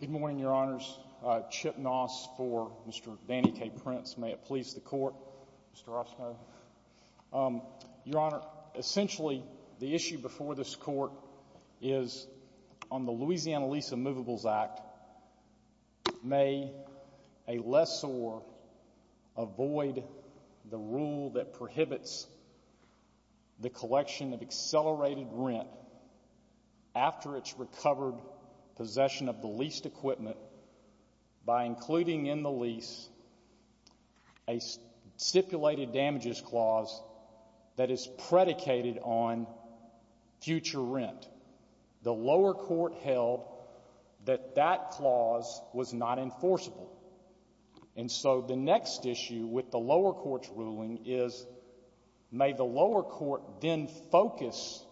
Good morning your honors. Chip Noss for Mr. Danny K. Prince. May it please the court. Your honor, essentially the issue before this court is on the Louisiana Lease of Movables Act. May a lessor avoid the rule that prohibits the collection of accelerated rent after it's recovered possession of the leased equipment by including in the lease a stipulated damages clause that is predicated on future rent. The lower court held that that clause was not enforceable. And so the next issue with the lower court's ruling is may the lower court then focus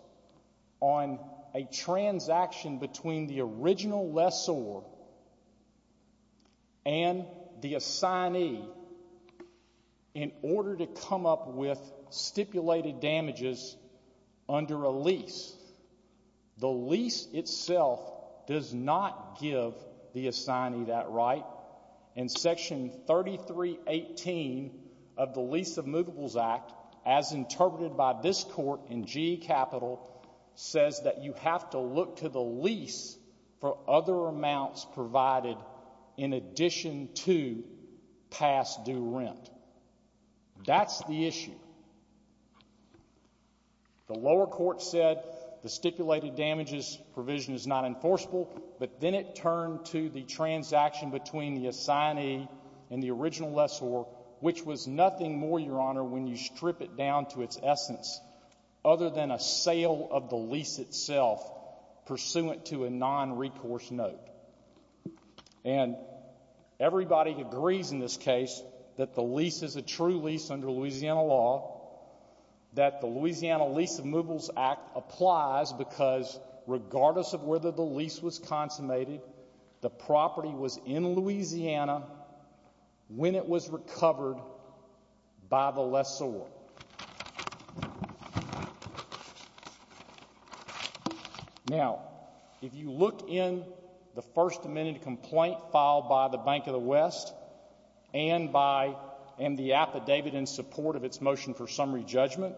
on a transaction between the original lessor and the assignee in order to come up with stipulated damages under a lease. The lease itself does not give the assignee that right. And section 3318 of the Lease of Movables Act, as interpreted by this court in GE Capital, says that you have to look to the lease for other amounts provided in addition to past due rent. That's the issue. The lower court said the stipulated damages provision is not enforceable, but then it turned to the transaction between the assignee and the original lessor, which was nothing more, your honor, when you strip it down to its essence other than a sale of the lease itself pursuant to a non-recourse note. And everybody agrees in this case that the lease is a true lease under Louisiana law, that the Louisiana Lease of Movables Act applies because regardless of whether the lease was consummated, the property was in Louisiana when it was recovered by the lessor. Now, if you look in the First Amendment complaint filed by the Bank of the West and the affidavit in support of its motion for summary judgment,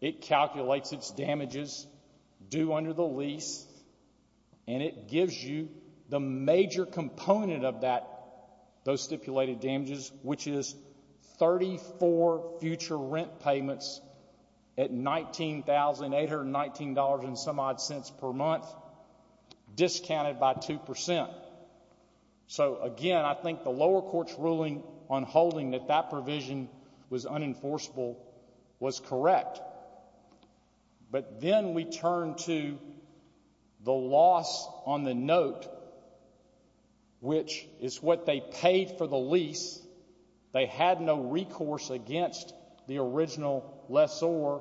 it calculates its damages due under the lease and it gives you the major component of those stipulated damages, which is 34 future rents. So, again, I think the lower court's ruling on holding that that provision was unenforceable was correct. But then we turn to the loss on the note, which is what they paid for the lease, they had no recourse against the original lessor,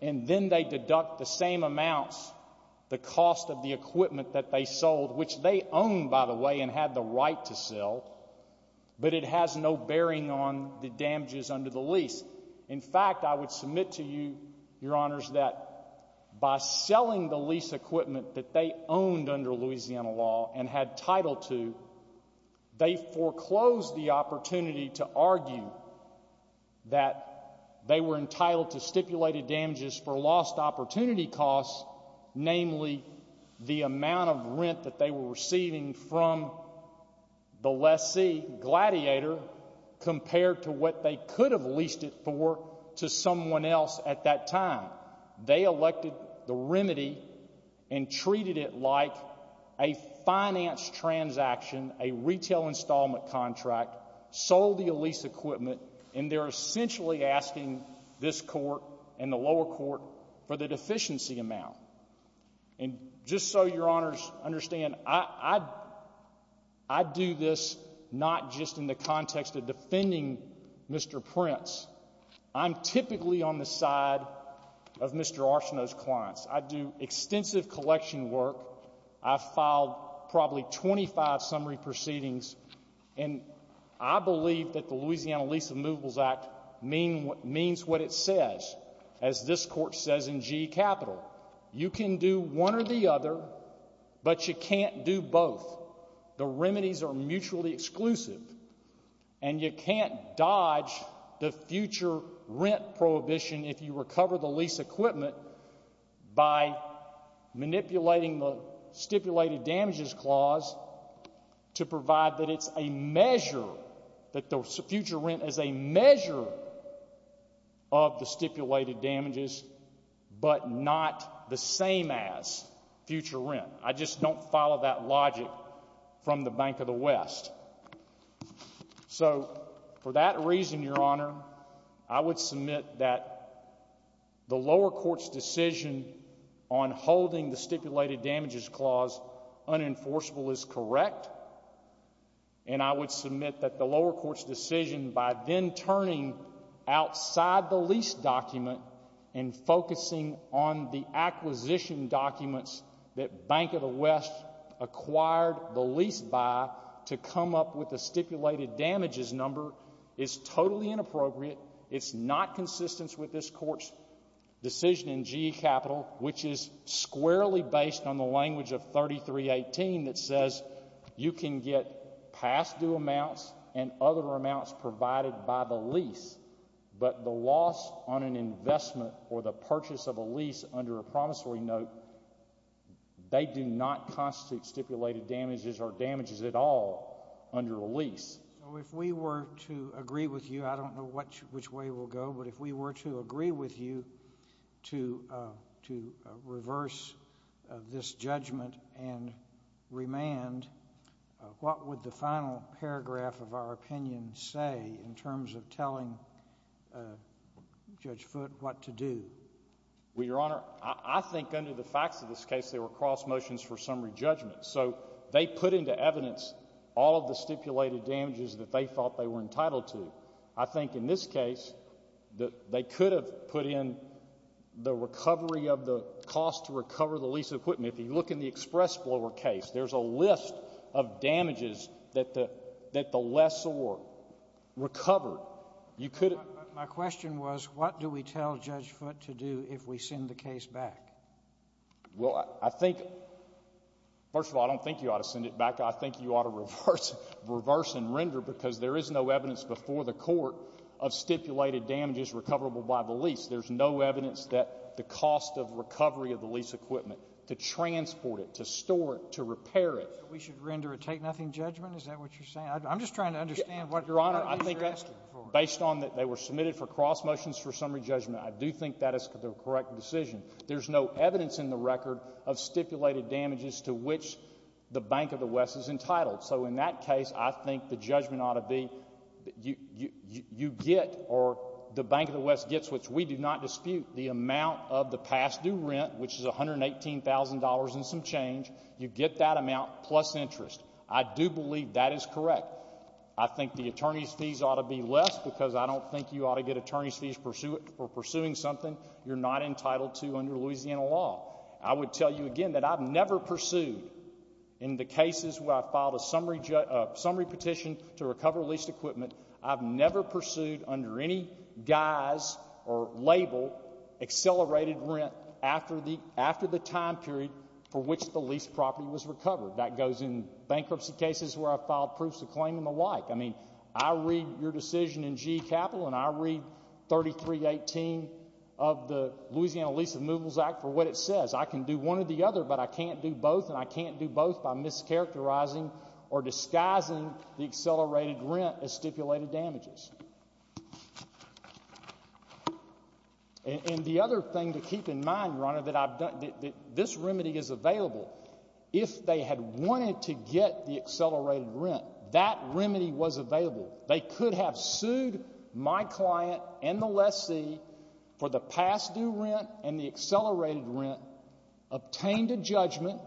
and then they deduct the same amounts, the cost of the equipment that they sold, which they owned, by the way, and had the right to sell, but it has no bearing on the damages under the lease. In fact, I would submit to you, Your Honors, that by selling the lease equipment that they owned under Louisiana law and had title to, they foreclosed the opportunity to argue that they were entitled to stipulated damages for lost opportunity costs, namely the amount of rent that they were receiving from the lessee, Gladiator, compared to what they could have leased it for. To someone else at that time, they elected the remedy and treated it like a finance transaction, a retail installment contract, sold the lease equipment, and they're essentially asking this court and the lower court for the deficiency amount. And just so Your Honors understand, I do this not just in the context of defending Mr. Prince. I'm typically on the side of Mr. Archeneau's clients. I do extensive collection work. I've filed probably 25 summary proceedings, and I believe that the Louisiana Lease of Moveables Act means what it says. As this court says in GE Capital, you can do one or the other, but you can't do both. The remedies are mutually exclusive, and you can't dodge the future rent prohibition if you recover the lease equipment by manipulating the stipulated damages clause to provide that it's a measure, that the future rent is a measure of the stipulated damages. But not the same as future rent. I just don't follow that logic from the Bank of the West. So, for that reason, Your Honor, I would submit that the lower court's decision on holding the stipulated damages clause unenforceable is correct. And I would submit that the lower court's decision by then turning outside the lease document and focusing on the acquisition documents that Bank of the West acquired the lease by to come up with the stipulated damages number is totally inappropriate. It's not consistent with this court's decision in GE Capital, which is squarely based on the language of 3318 that says you can get past due amounts and other amounts provided by the lease, but the loss on an investment or the purchase of a lease under a promissory note, they do not constitute stipulated damages or damages at all under a lease. So if we were to agree with you, I don't know which way we'll go, but if we were to agree with you to reverse this judgment and remand, what would the final paragraph of our opinion say in terms of telling Judge Foote what to do? Well, Your Honor, I think under the facts of this case, there were cross motions for summary judgment. So they put into evidence all of the stipulated damages that they thought they were entitled to. I think in this case, they could have put in the recovery of the cost to recover the lease equipment. If you look in the express blower case, there's a list of damages that the lessor recovered. My question was, what do we tell Judge Foote to do if we send the case back? Well, I think, first of all, I don't think you ought to send it back. I think you ought to reverse and render because there is no evidence before the court of stipulated damages recoverable by the lease. There's no evidence that the cost of recovery of the lease equipment to transport it, to store it, to repair it. We should render a take-nothing judgment? Is that what you're saying? I'm just trying to understand what you're asking for. Your Honor, based on that they were submitted for cross motions for summary judgment, I do think that is the correct decision. There's no evidence in the record of stipulated damages to which the Bank of the West is entitled. So in that case, I think the judgment ought to be you get or the Bank of the West gets, which we do not dispute, the amount of the past due rent, which is $118,000 and some change. You get that amount plus interest. I do believe that is correct. I think the attorney's fees ought to be less because I don't think you ought to get attorney's fees for pursuing something you're not entitled to under Louisiana law. I would tell you again that I've never pursued in the cases where I filed a summary petition to recover leased equipment, I've never pursued under any guise or label accelerated rent after the time period for which the leased property was recovered. That goes in bankruptcy cases where I filed proofs of claim and the like. I mean, I read your decision in GE Capital and I read 3318 of the Louisiana Lease of Moveables Act for what it says. I can do one or the other, but I can't do both, and I can't do both by mischaracterizing or disguising the accelerated rent as stipulated damages. And the other thing to keep in mind, Your Honor, that this remedy is available. If they had wanted to get the accelerated rent, that remedy was available. They could have sued my client and the lessee for the past due rent and the accelerated rent, obtained a judgment,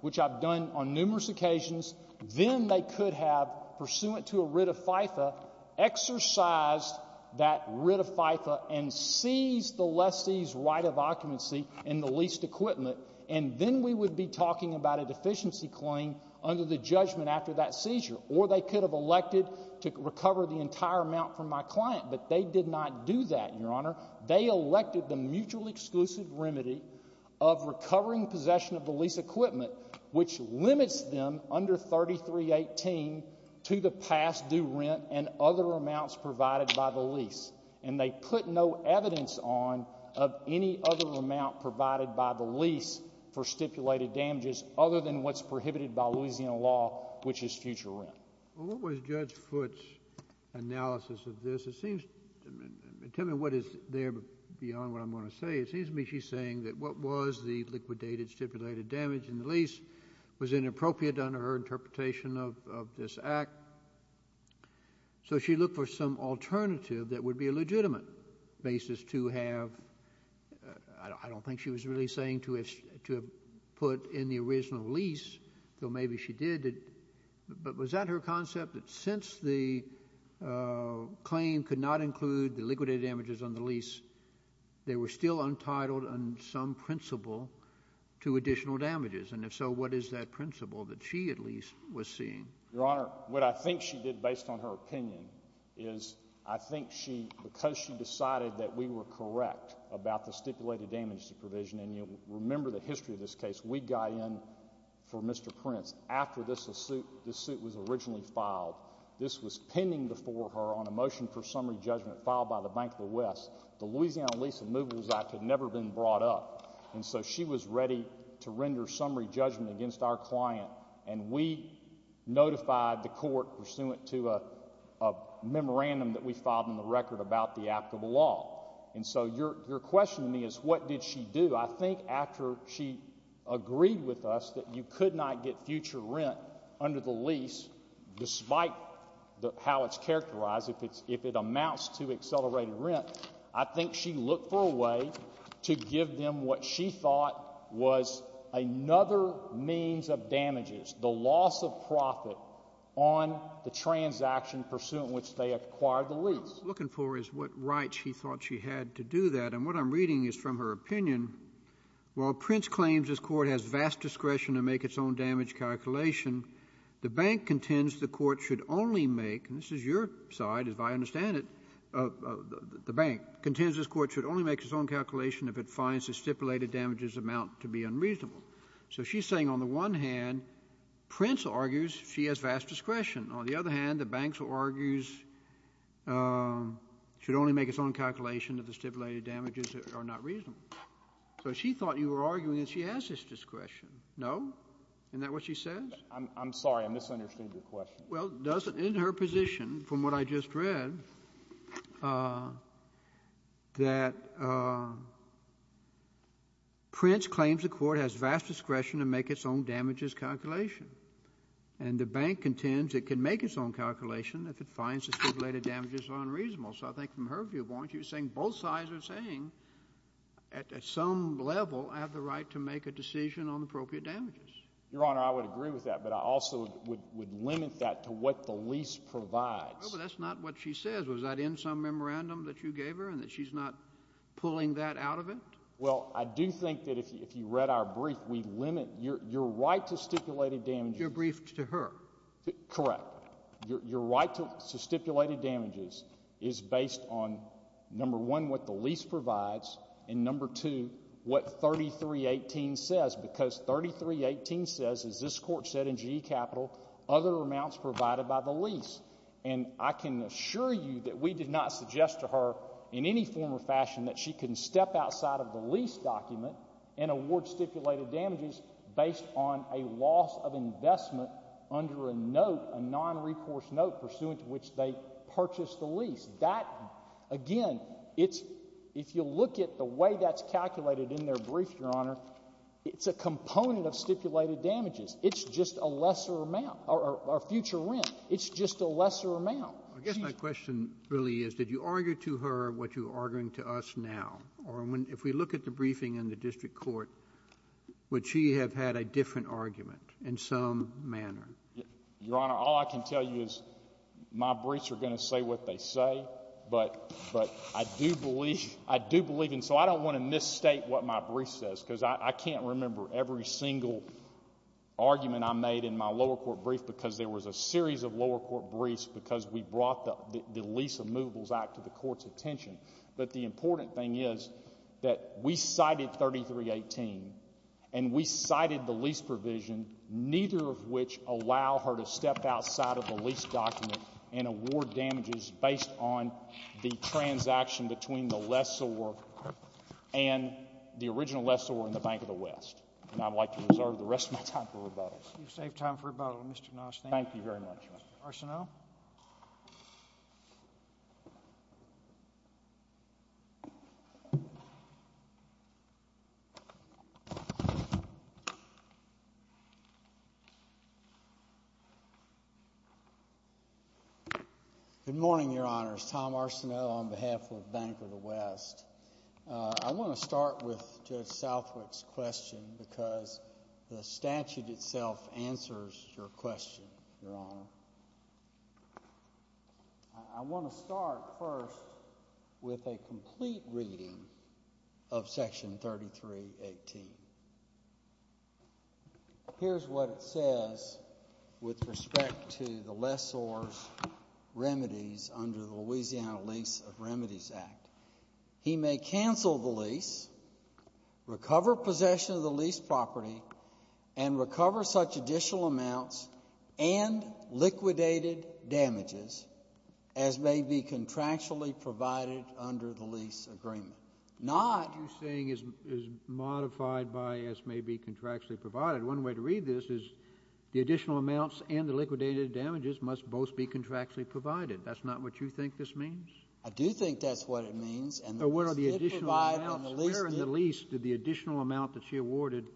which I've done on numerous occasions, then they could have, pursuant to a writ of FIFA, exercised that writ of FIFA and seized the lessee's right of occupancy in the leased equipment, and then we would be talking about a deficiency claim under the judgment after that seizure. Or they could have elected to recover the entire amount from my client, but they did not do that, Your Honor. They elected the mutually exclusive remedy of recovering possession of the leased equipment, which limits them under 3318 to the past due rent and other amounts provided by the lease. And they put no evidence on of any other amount provided by the lease for stipulated damages other than what's prohibited by Louisiana law, which is future rent. Well, what was Judge Foote's analysis of this? It seems—tell me what is there beyond what I'm going to say. It seems to me she's saying that what was the liquidated stipulated damage in the lease was inappropriate under her interpretation of this act. So she looked for some alternative that would be a legitimate basis to have— I don't think she was really saying to have put in the original lease, though maybe she did. But was that her concept, that since the claim could not include the liquidated damages on the lease, they were still untitled on some principle to additional damages? And if so, what is that principle that she at least was seeing? Your Honor, what I think she did based on her opinion is I think she—because she decided that we were correct about the stipulated damage supervision, and you'll remember the history of this case. We got in for Mr. Prince after this suit was originally filed. This was pending before her on a motion for summary judgment filed by the Bank of the West. The Louisiana Lease of Movers Act had never been brought up. And so she was ready to render summary judgment against our client, and we notified the court pursuant to a memorandum that we filed in the record about the act of the law. And so your question to me is what did she do? I think after she agreed with us that you could not get future rent under the lease, despite how it's characterized, if it amounts to accelerated rent, I think she looked for a way to give them what she thought was another means of damages, the loss of profit on the transaction pursuant to which they acquired the lease. What she's looking for is what rights she thought she had to do that. And what I'm reading is from her opinion, while Prince claims this court has vast discretion to make its own damage calculation, the bank contends the court should only make—and this is your side, as I understand it, the bank— contends this court should only make its own calculation if it finds the stipulated damages amount to be unreasonable. So she's saying on the one hand, Prince argues she has vast discretion. On the other hand, the bank argues it should only make its own calculation if the stipulated damages are not reasonable. So she thought you were arguing that she has this discretion. No? Isn't that what she says? I'm sorry. I misunderstood your question. Well, in her position, from what I just read, that Prince claims the court has vast discretion to make its own damages calculation, and the bank contends it can make its own calculation if it finds the stipulated damages are unreasonable. So I think from her viewpoint, she was saying both sides are saying at some level I have the right to make a decision on appropriate damages. Your Honor, I would agree with that, but I also would limit that to what the lease provides. Well, but that's not what she says. Was that in some memorandum that you gave her and that she's not pulling that out of it? Well, I do think that if you read our brief, we limit your right to stipulated damages. Your brief to her? Correct. Your right to stipulated damages is based on, number one, what the lease provides, and number two, what 3318 says, because 3318 says, as this Court said in GE Capital, other amounts provided by the lease. And I can assure you that we did not suggest to her in any form or fashion that she can step outside of the lease document and award stipulated damages based on a loss of investment under a note, a non-recourse note, pursuant to which they purchased the lease. That, again, if you look at the way that's calculated in their brief, Your Honor, it's a component of stipulated damages. It's just a lesser amount or future rent. It's just a lesser amount. I guess my question really is, did you argue to her what you're arguing to us now? Or if we look at the briefing in the District Court, would she have had a different argument in some manner? Your Honor, all I can tell you is my briefs are going to say what they say, but I do believe, and so I don't want to misstate what my brief says because I can't remember every single argument I made in my lower court brief because there was a series of lower court briefs because we brought the Lease of Moveables Act to the Court's attention. But the important thing is that we cited 3318 and we cited the lease provision, neither of which allow her to step outside of the lease document and award damages based on the transaction between the lessor and the original lessor in the Bank of the West. And I would like to reserve the rest of my time for rebuttal. You've saved time for rebuttal, Mr. Nash. Thank you very much. Mr. Arsenault. Good morning, Your Honors. Tom Arsenault on behalf of Bank of the West. I want to start with Judge Southwick's question because the statute itself answers your question, Your Honor. I want to start first with a complete reading of Section 3318. Here's what it says with respect to the lessor's remedies under the Louisiana Lease of Remedies Act. He may cancel the lease, recover possession of the lease property, and recover such additional amounts and liquidated damages as may be contractually provided under the lease agreement. What you're saying is modified by as may be contractually provided. One way to read this is the additional amounts and the liquidated damages must both be contractually provided. That's not what you think this means? I do think that's what it means. But what are the additional amounts? Where in the lease did the additional amount that she awarded,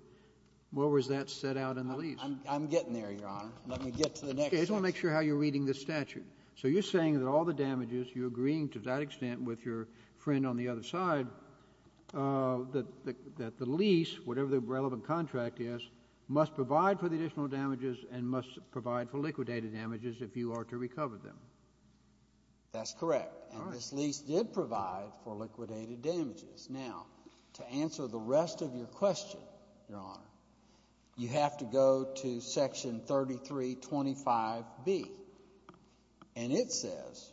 where was that set out in the lease? I'm getting there, Your Honor. Let me get to the next section. I just want to make sure how you're reading this statute. So you're saying that all the damages, you're agreeing to that extent with your friend on the other side, that the lease, whatever the relevant contract is, must provide for the additional damages and must provide for liquidated damages if you are to recover them. That's correct. And this lease did provide for liquidated damages. Now, to answer the rest of your question, Your Honor, you have to go to Section 3325B, and it says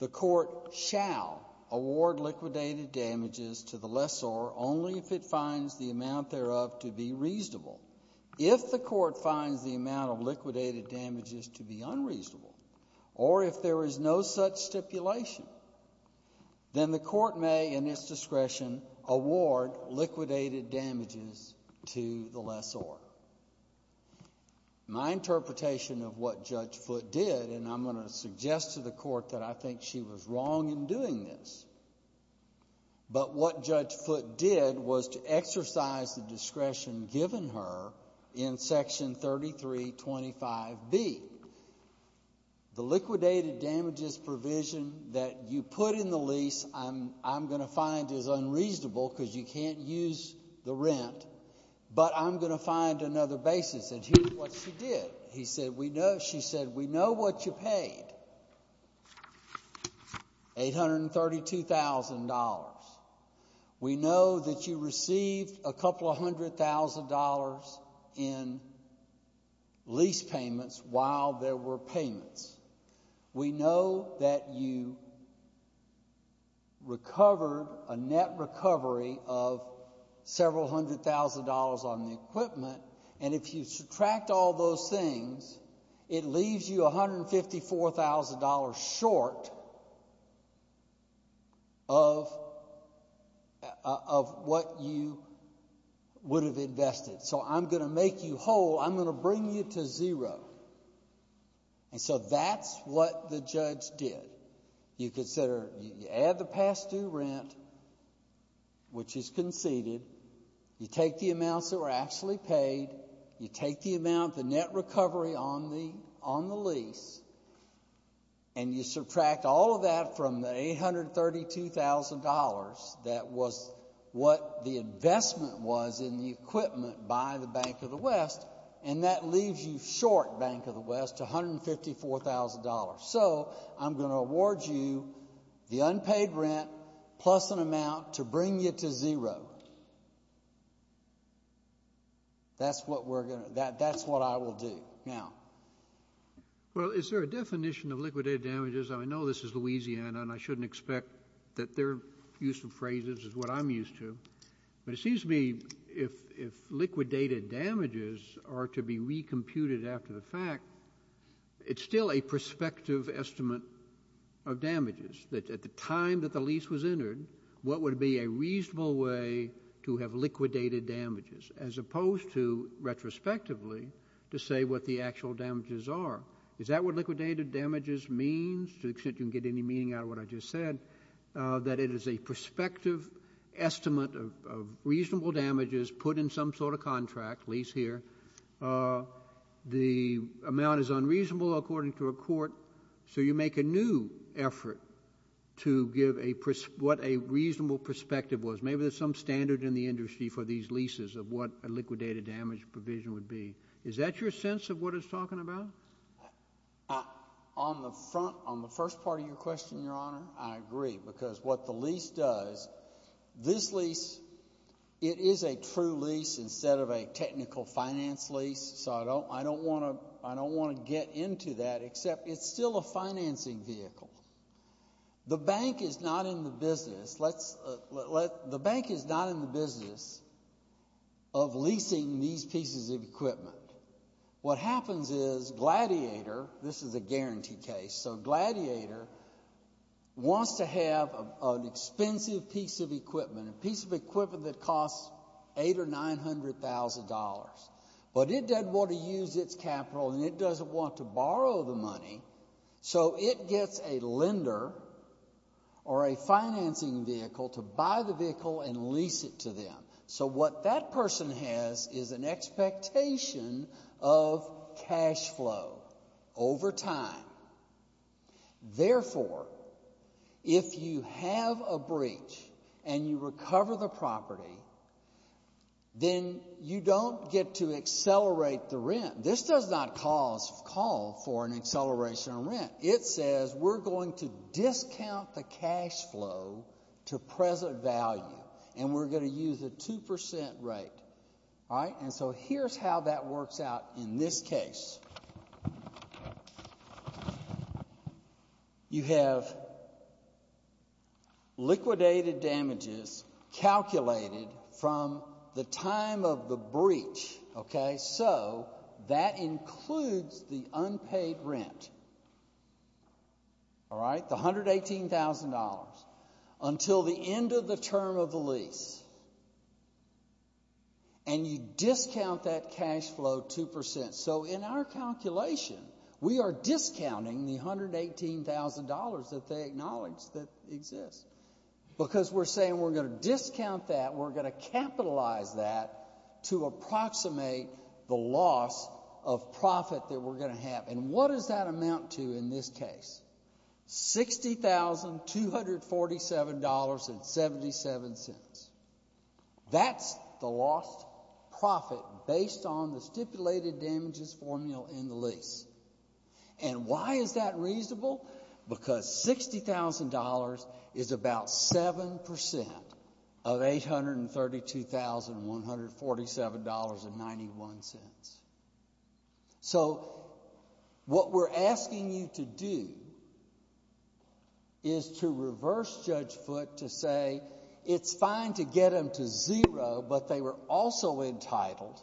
the court shall award liquidated damages to the lessor only if it finds the amount thereof to be reasonable. If the court finds the amount of liquidated damages to be unreasonable or if there is no such stipulation, then the court may, in its discretion, award liquidated damages to the lessor. My interpretation of what Judge Foote did, and I'm going to suggest to the court that I think she was wrong in doing this, but what Judge Foote did was to exercise the discretion given her in Section 3325B. The liquidated damages provision that you put in the lease, I'm going to find, is unreasonable because you can't use the rent, but I'm going to find another basis, and here's what she did. She said, we know what you paid. $832,000. We know that you received a couple of hundred thousand dollars in lease payments while there were payments. We know that you recovered a net recovery of several hundred thousand dollars on the equipment, and if you subtract all those things, it leaves you $154,000 short of what you would have invested. So I'm going to make you whole. I'm going to bring you to zero. And so that's what the judge did. You consider, you add the past due rent, which is conceded, you take the amounts that were actually paid, you take the amount, the net recovery on the lease, and you subtract all of that from the $832,000 that was what the investment was in the equipment by the Bank of the West, and that leaves you short, Bank of the West, $154,000. So I'm going to award you the unpaid rent plus an amount to bring you to zero. That's what I will do. Now. Well, is there a definition of liquidated damages? I know this is Louisiana, and I shouldn't expect that their use of phrases is what I'm used to, but it seems to me if liquidated damages are to be recomputed after the fact, it's still a prospective estimate of damages, that at the time that the lease was entered, what would be a reasonable way to have liquidated damages, as opposed to, retrospectively, to say what the actual damages are. Is that what liquidated damages means, to the extent you can get any meaning out of what I just said, that it is a prospective estimate of reasonable damages put in some sort of contract, lease here. The amount is unreasonable according to a court, so you make a new effort to give what a reasonable perspective was. Maybe there's some standard in the industry for these leases of what a liquidated damage provision would be. Is that your sense of what it's talking about? On the first part of your question, Your Honor, I agree, because what the lease does, this lease, it is a true lease instead of a technical finance lease, so I don't want to get into that, except it's still a financing vehicle. The bank is not in the business of leasing these pieces of equipment. What happens is Gladiator, this is a guarantee case, so Gladiator wants to have an expensive piece of equipment, a piece of equipment that costs $800,000 or $900,000, but it doesn't want to use its capital, and it doesn't want to borrow the money, so it gets a lender or a financing vehicle to buy the vehicle and lease it to them. So what that person has is an expectation of cash flow over time. Therefore, if you have a breach and you recover the property, then you don't get to accelerate the rent. This does not call for an acceleration of rent. It says we're going to discount the cash flow to present value, and we're going to use a 2% rate. And so here's how that works out in this case. You have liquidated damages calculated from the time of the breach. So that includes the unpaid rent, the $118,000, until the end of the term of the lease, and you discount that cash flow 2%. So in our calculation, we are discounting the $118,000 that they acknowledge that exists, because we're saying we're going to discount that, we're going to capitalize that to approximate the loss of profit that we're going to have. And what does that amount to in this case? $60,247.77. That's the lost profit based on the stipulated damages formula in the lease. And why is that reasonable? Because $60,000 is about 7% of $832,147.91. So what we're asking you to do is to reverse Judge Foote to say it's fine to get them to zero, but they were also entitled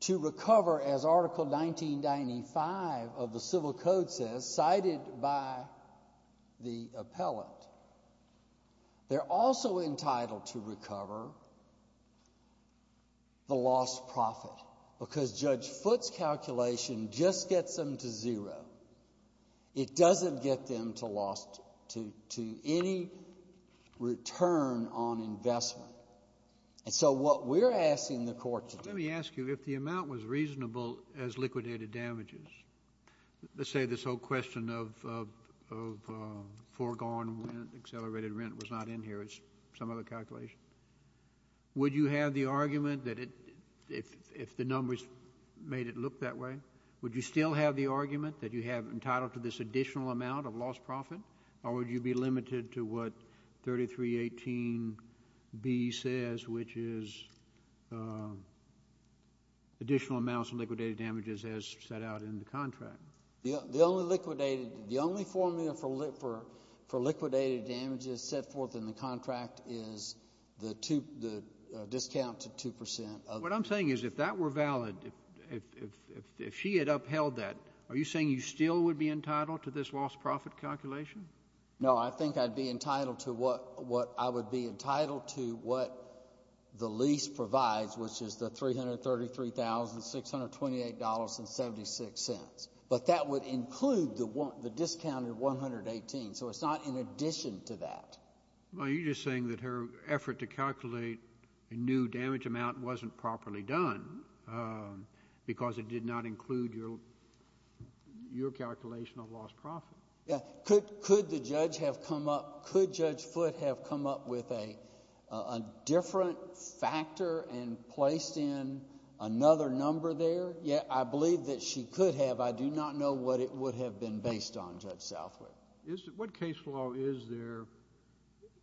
to recover, as Article 1995 of the Civil Code says, cited by the appellant. They're also entitled to recover the lost profit, because Judge Foote's calculation just gets them to zero. It doesn't get them to any return on investment. And so what we're asking the court to do— Accelerated rent was not in here. It's some other calculation. Would you have the argument that if the numbers made it look that way, would you still have the argument that you have entitled to this additional amount of lost profit, or would you be limited to what 3318B says, which is additional amounts of liquidated damages as set out in the contract? The only liquidated—the only formula for liquidated damages set forth in the contract is the discount to 2%. What I'm saying is if that were valid, if she had upheld that, are you saying you still would be entitled to this lost profit calculation? No, I think I'd be entitled to what—I would be entitled to what the lease provides, which is the $333,628.76. But that would include the discounted 118, so it's not in addition to that. Are you just saying that her effort to calculate a new damage amount wasn't properly done because it did not include your calculation of lost profit? Yeah. Could the judge have come up—could Judge Foote have come up with a different factor and placed in another number there? Yeah, I believe that she could have. I do not know what it would have been based on, Judge Southwood. What case law is there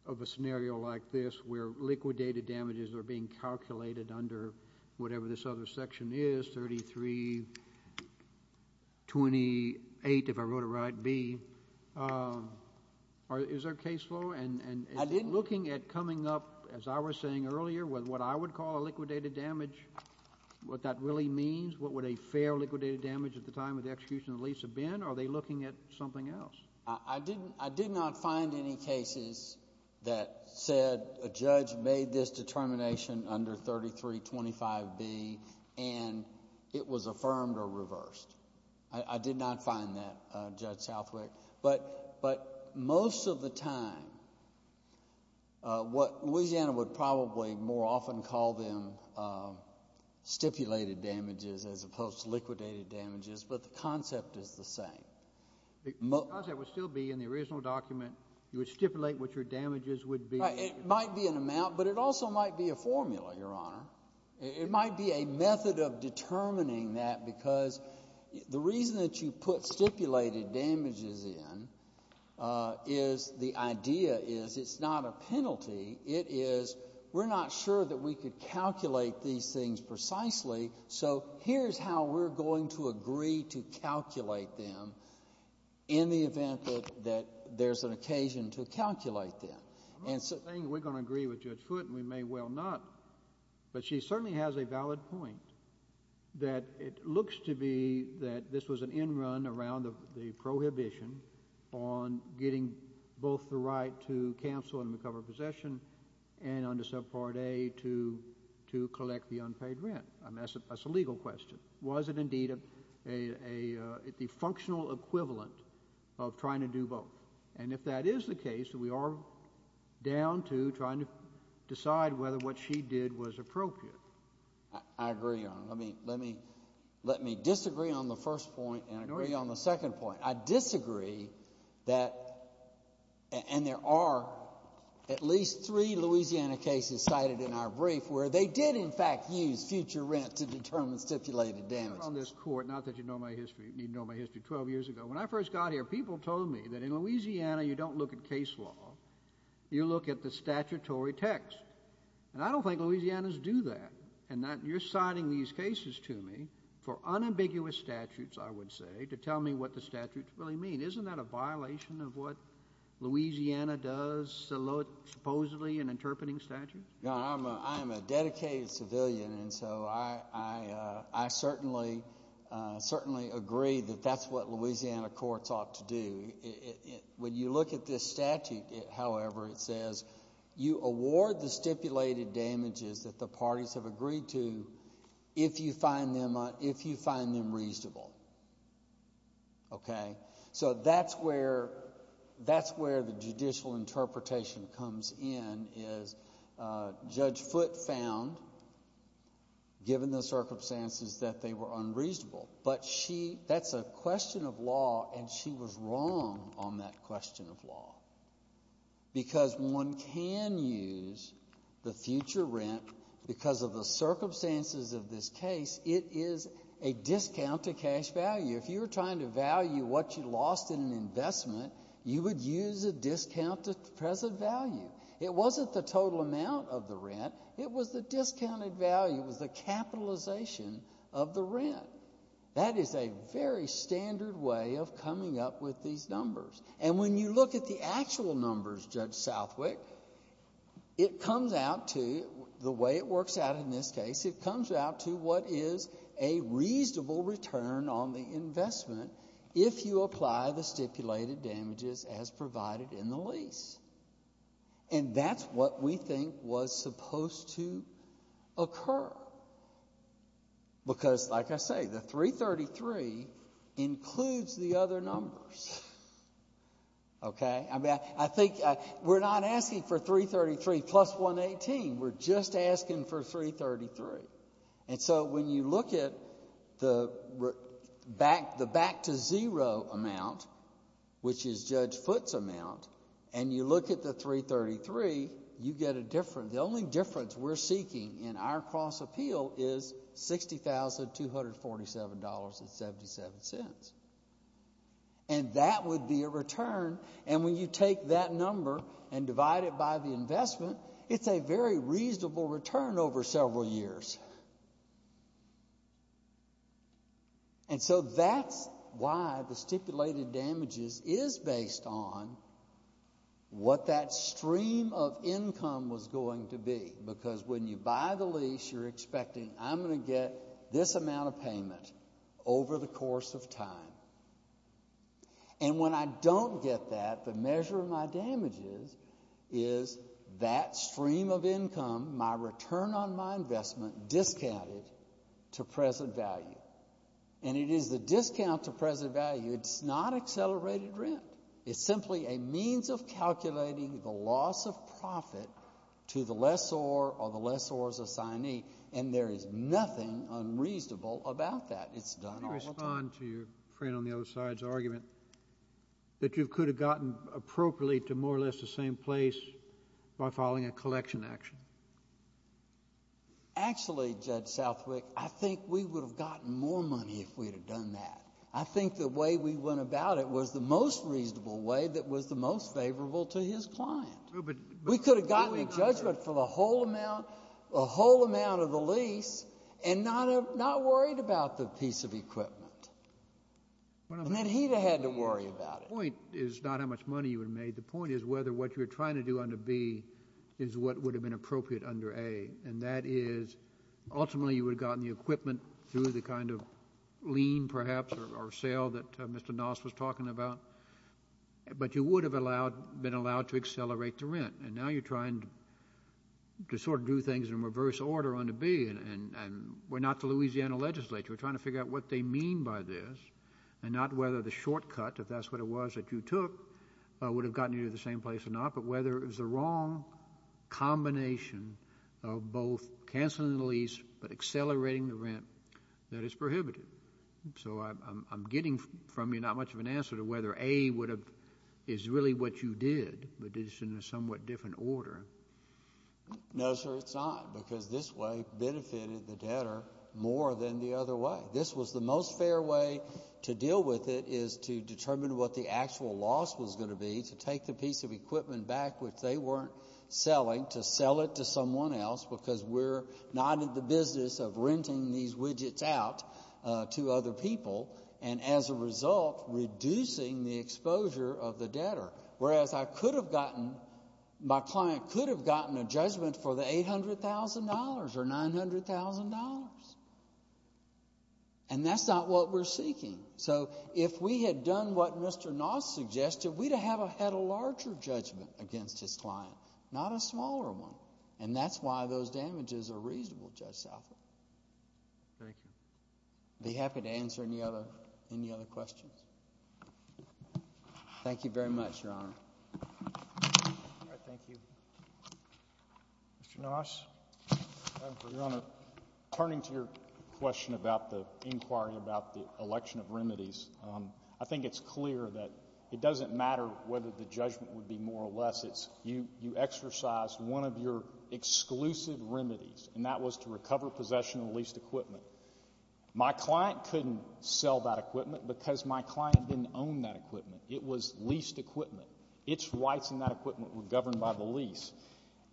of a scenario like this where liquidated damages are being calculated under whatever this other section is, under 3328, if I wrote it right, B? Is there a case law? I didn't— And looking at coming up, as I was saying earlier, with what I would call a liquidated damage, what that really means, what would a fair liquidated damage at the time of the execution of the lease have been? Are they looking at something else? I did not find any cases that said a judge made this determination under 3325B and it was affirmed or reversed. I did not find that, Judge Southwick. But most of the time, what Louisiana would probably more often call them stipulated damages as opposed to liquidated damages, but the concept is the same. The concept would still be in the original document. You would stipulate what your damages would be. It might be an amount, but it also might be a formula, Your Honor. It might be a method of determining that because the reason that you put stipulated damages in is the idea is it's not a penalty. It is we're not sure that we could calculate these things precisely, so here's how we're going to agree to calculate them in the event that there's an occasion to calculate them. We're going to agree with Judge Foote and we may well not, but she certainly has a valid point that it looks to be that this was an end run around the prohibition on getting both the right to counsel and recover possession and under subpart A to collect the unpaid rent. That's a legal question. Was it indeed the functional equivalent of trying to do both? And if that is the case, we are down to trying to decide whether what she did was appropriate. I agree, Your Honor. Let me disagree on the first point and agree on the second point. I disagree that, and there are at least three Louisiana cases cited in our brief where they did, in fact, use future rent to determine stipulated damages. Your Honor, on this court, not that you know my history. You know my history 12 years ago. When I first got here, people told me that in Louisiana you don't look at case law. You look at the statutory text, and I don't think Louisiana's do that, and that you're citing these cases to me for unambiguous statutes, I would say, to tell me what the statutes really mean. Isn't that a violation of what Louisiana does supposedly in interpreting statutes? Your Honor, I'm a dedicated civilian, and so I certainly agree that that's what Louisiana courts ought to do. When you look at this statute, however, it says you award the stipulated damages that the parties have agreed to if you find them reasonable. Okay? So that's where the judicial interpretation comes in, is Judge Foote found, given the circumstances, that they were unreasonable. But that's a question of law, and she was wrong on that question of law, because one can use the future rent because of the circumstances of this case. It is a discount to cash value. If you were trying to value what you lost in an investment, you would use a discount to present value. It wasn't the total amount of the rent. It was the discounted value. It was the capitalization of the rent. That is a very standard way of coming up with these numbers. And when you look at the actual numbers, Judge Southwick, it comes out to, the way it works out in this case, it comes out to what is a reasonable return on the investment if you apply the stipulated damages as provided in the lease. And that's what we think was supposed to occur, because, like I say, the 333 includes the other numbers. Okay? I mean, I think we're not asking for 333 plus 118. We're just asking for 333. And so when you look at the back-to-zero amount, which is Judge Foote's amount, and you look at the 333, you get a difference. The only difference we're seeking in our cross-appeal is $60,247.77. And that would be a return. And when you take that number and divide it by the investment, it's a very reasonable return over several years. And so that's why the stipulated damages is based on what that stream of income was going to be, because when you buy the lease, you're expecting, I'm going to get this amount of payment over the course of time. And when I don't get that, the measure of my damages is that stream of income, my return on my investment discounted to present value. And it is the discount to present value. It's not accelerated rent. It's simply a means of calculating the loss of profit to the lessor or the lessor's assignee, and there is nothing unreasonable about that. Can you respond to your friend on the other side's argument that you could have gotten appropriately to more or less the same place by filing a collection action? Actually, Judge Southwick, I think we would have gotten more money if we had done that. I think the way we went about it was the most reasonable way that was the most favorable to his client. We could have gotten a judgment for the whole amount of the lease and not worried about the piece of equipment. And then he would have had to worry about it. The point is not how much money you would have made. The point is whether what you're trying to do under B is what would have been appropriate under A, and that is ultimately you would have gotten the equipment through the kind of lien perhaps or sale that Mr. Noss was talking about, but you would have been allowed to accelerate the rent. And now you're trying to sort of do things in reverse order under B, and we're not the Louisiana legislature. We're trying to figure out what they mean by this and not whether the shortcut, if that's what it was that you took, would have gotten you to the same place or not, but whether it was the wrong combination of both canceling the lease but accelerating the rent that is prohibited. So I'm getting from you not much of an answer to whether A is really what you did, but it's in a somewhat different order. No, sir, it's not, because this way benefited the debtor more than the other way. This was the most fair way to deal with it is to determine what the actual loss was going to be, to take the piece of equipment back which they weren't selling, to sell it to someone else because we're not in the business of renting these widgets out to other people, and as a result reducing the exposure of the debtor. Whereas I could have gotten, my client could have gotten a judgment for the $800,000 or $900,000, and that's not what we're seeking. So if we had done what Mr. Noss suggested, we'd have had a larger judgment against his client, not a smaller one, and that's why those damages are reasonable, Judge Southup. Thank you. I'd be happy to answer any other questions. Thank you very much, Your Honor. Thank you. Mr. Noss. Your Honor, turning to your question about the inquiry about the election of remedies, I think it's clear that it doesn't matter whether the judgment would be more or less. You exercised one of your exclusive remedies, and that was to recover possession of leased equipment. My client couldn't sell that equipment because my client didn't own that equipment. It was leased equipment. Its rights in that equipment were governed by the lease,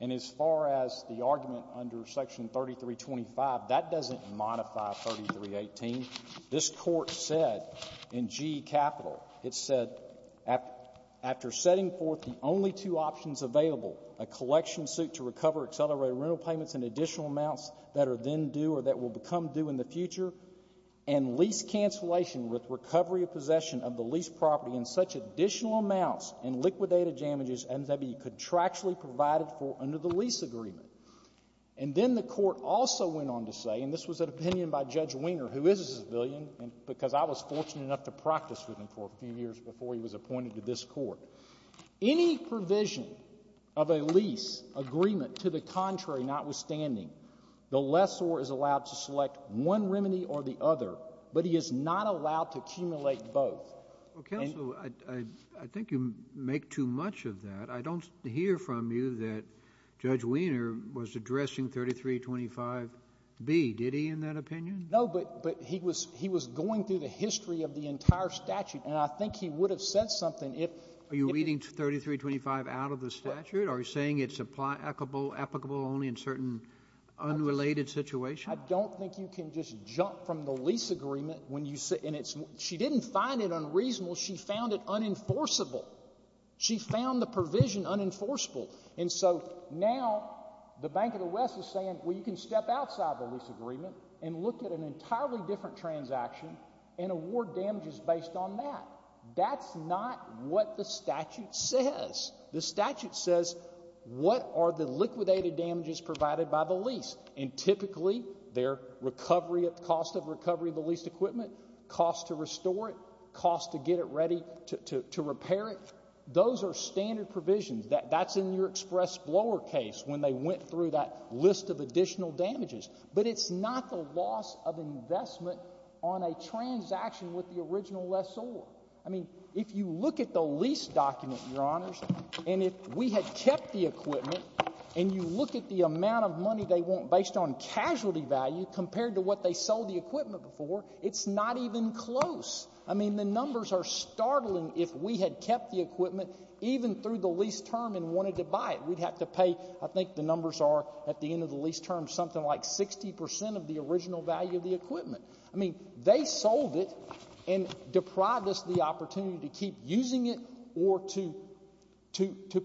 and as far as the argument under Section 3325, that doesn't modify 3318. This Court said in G Capital, it said, after setting forth the only two options available, a collection suit to recover accelerated rental payments and additional amounts that are then due or that will become due in the future, and lease cancellation with recovery of possession of the leased property and such additional amounts in liquidated damages and that be contractually provided for under the lease agreement. And then the Court also went on to say, and this was an opinion by Judge Wiener, who is a civilian, because I was fortunate enough to practice with him for a few years before he was appointed to this Court, any provision of a lease agreement to the contrary notwithstanding, the lessor is allowed to select one remedy or the other, but he is not allowed to accumulate both. Counsel, I think you make too much of that. I don't hear from you that Judge Wiener was addressing 3325B. Did he in that opinion? No, but he was going through the history of the entire statute, and I think he would have said something if— Are you reading 3325 out of the statute? Are you saying it's applicable only in certain unrelated situations? I don't think you can just jump from the lease agreement when you say—and she didn't find it unreasonable. She found it unenforceable. She found the provision unenforceable. And so now the Bank of the West is saying, well, you can step outside the lease agreement and look at an entirely different transaction and award damages based on that. That's not what the statute says. The statute says what are the liquidated damages provided by the lease, and typically they're recovery of—cost of recovery of the leased equipment, cost to restore it, cost to get it ready to repair it. Those are standard provisions. That's in your express blower case when they went through that list of additional damages. But it's not the loss of investment on a transaction with the original lessor. I mean, if you look at the lease document, Your Honors, and if we had kept the equipment, and you look at the amount of money they want based on casualty value compared to what they sold the equipment for, it's not even close. I mean, the numbers are startling if we had kept the equipment even through the lease term and wanted to buy it. We'd have to pay, I think the numbers are at the end of the lease term, something like 60 percent of the original value of the equipment. I mean, they sold it and deprived us the opportunity to keep using it or to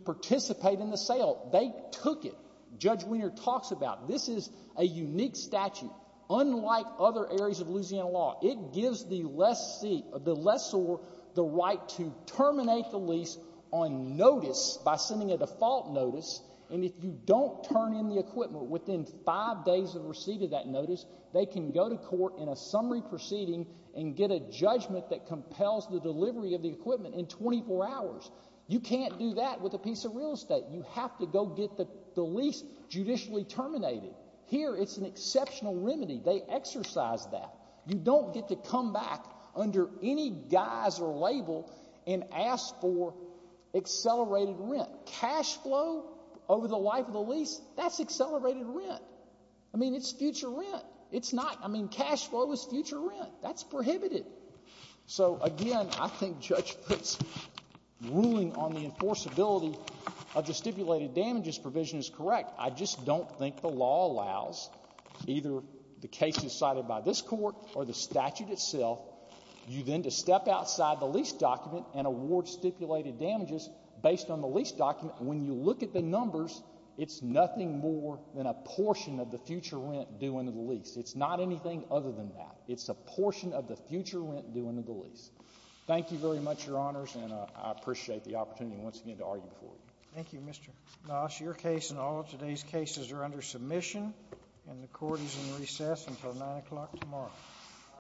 participate in the sale. They took it. Judge Wiener talks about it. This is a unique statute. Unlike other areas of Louisiana law, it gives the lessor the right to terminate the lease on notice by sending a default notice, and if you don't turn in the equipment within five days of receipt of that notice, they can go to court in a summary proceeding and get a judgment that compels the delivery of the equipment in 24 hours. You can't do that with a piece of real estate. You have to go get the lease judicially terminated. Here it's an exceptional remedy. They exercise that. You don't get to come back under any guise or label and ask for accelerated rent. Cash flow over the life of the lease, that's accelerated rent. I mean, it's future rent. It's not. I mean, cash flow is future rent. That's prohibited. So, again, I think Judge Pritz ruling on the enforceability of the stipulated damages provision is correct. I just don't think the law allows either the cases cited by this Court or the statute itself, you then to step outside the lease document and award stipulated damages based on the lease document. When you look at the numbers, it's nothing more than a portion of the future rent due under the lease. It's not anything other than that. It's a portion of the future rent due under the lease. Thank you very much, Your Honors, and I appreciate the opportunity once again to argue before you. Thank you, Mr. Noss. Your case and all of today's cases are under submission, and the Court is in recess until 9 o'clock tomorrow.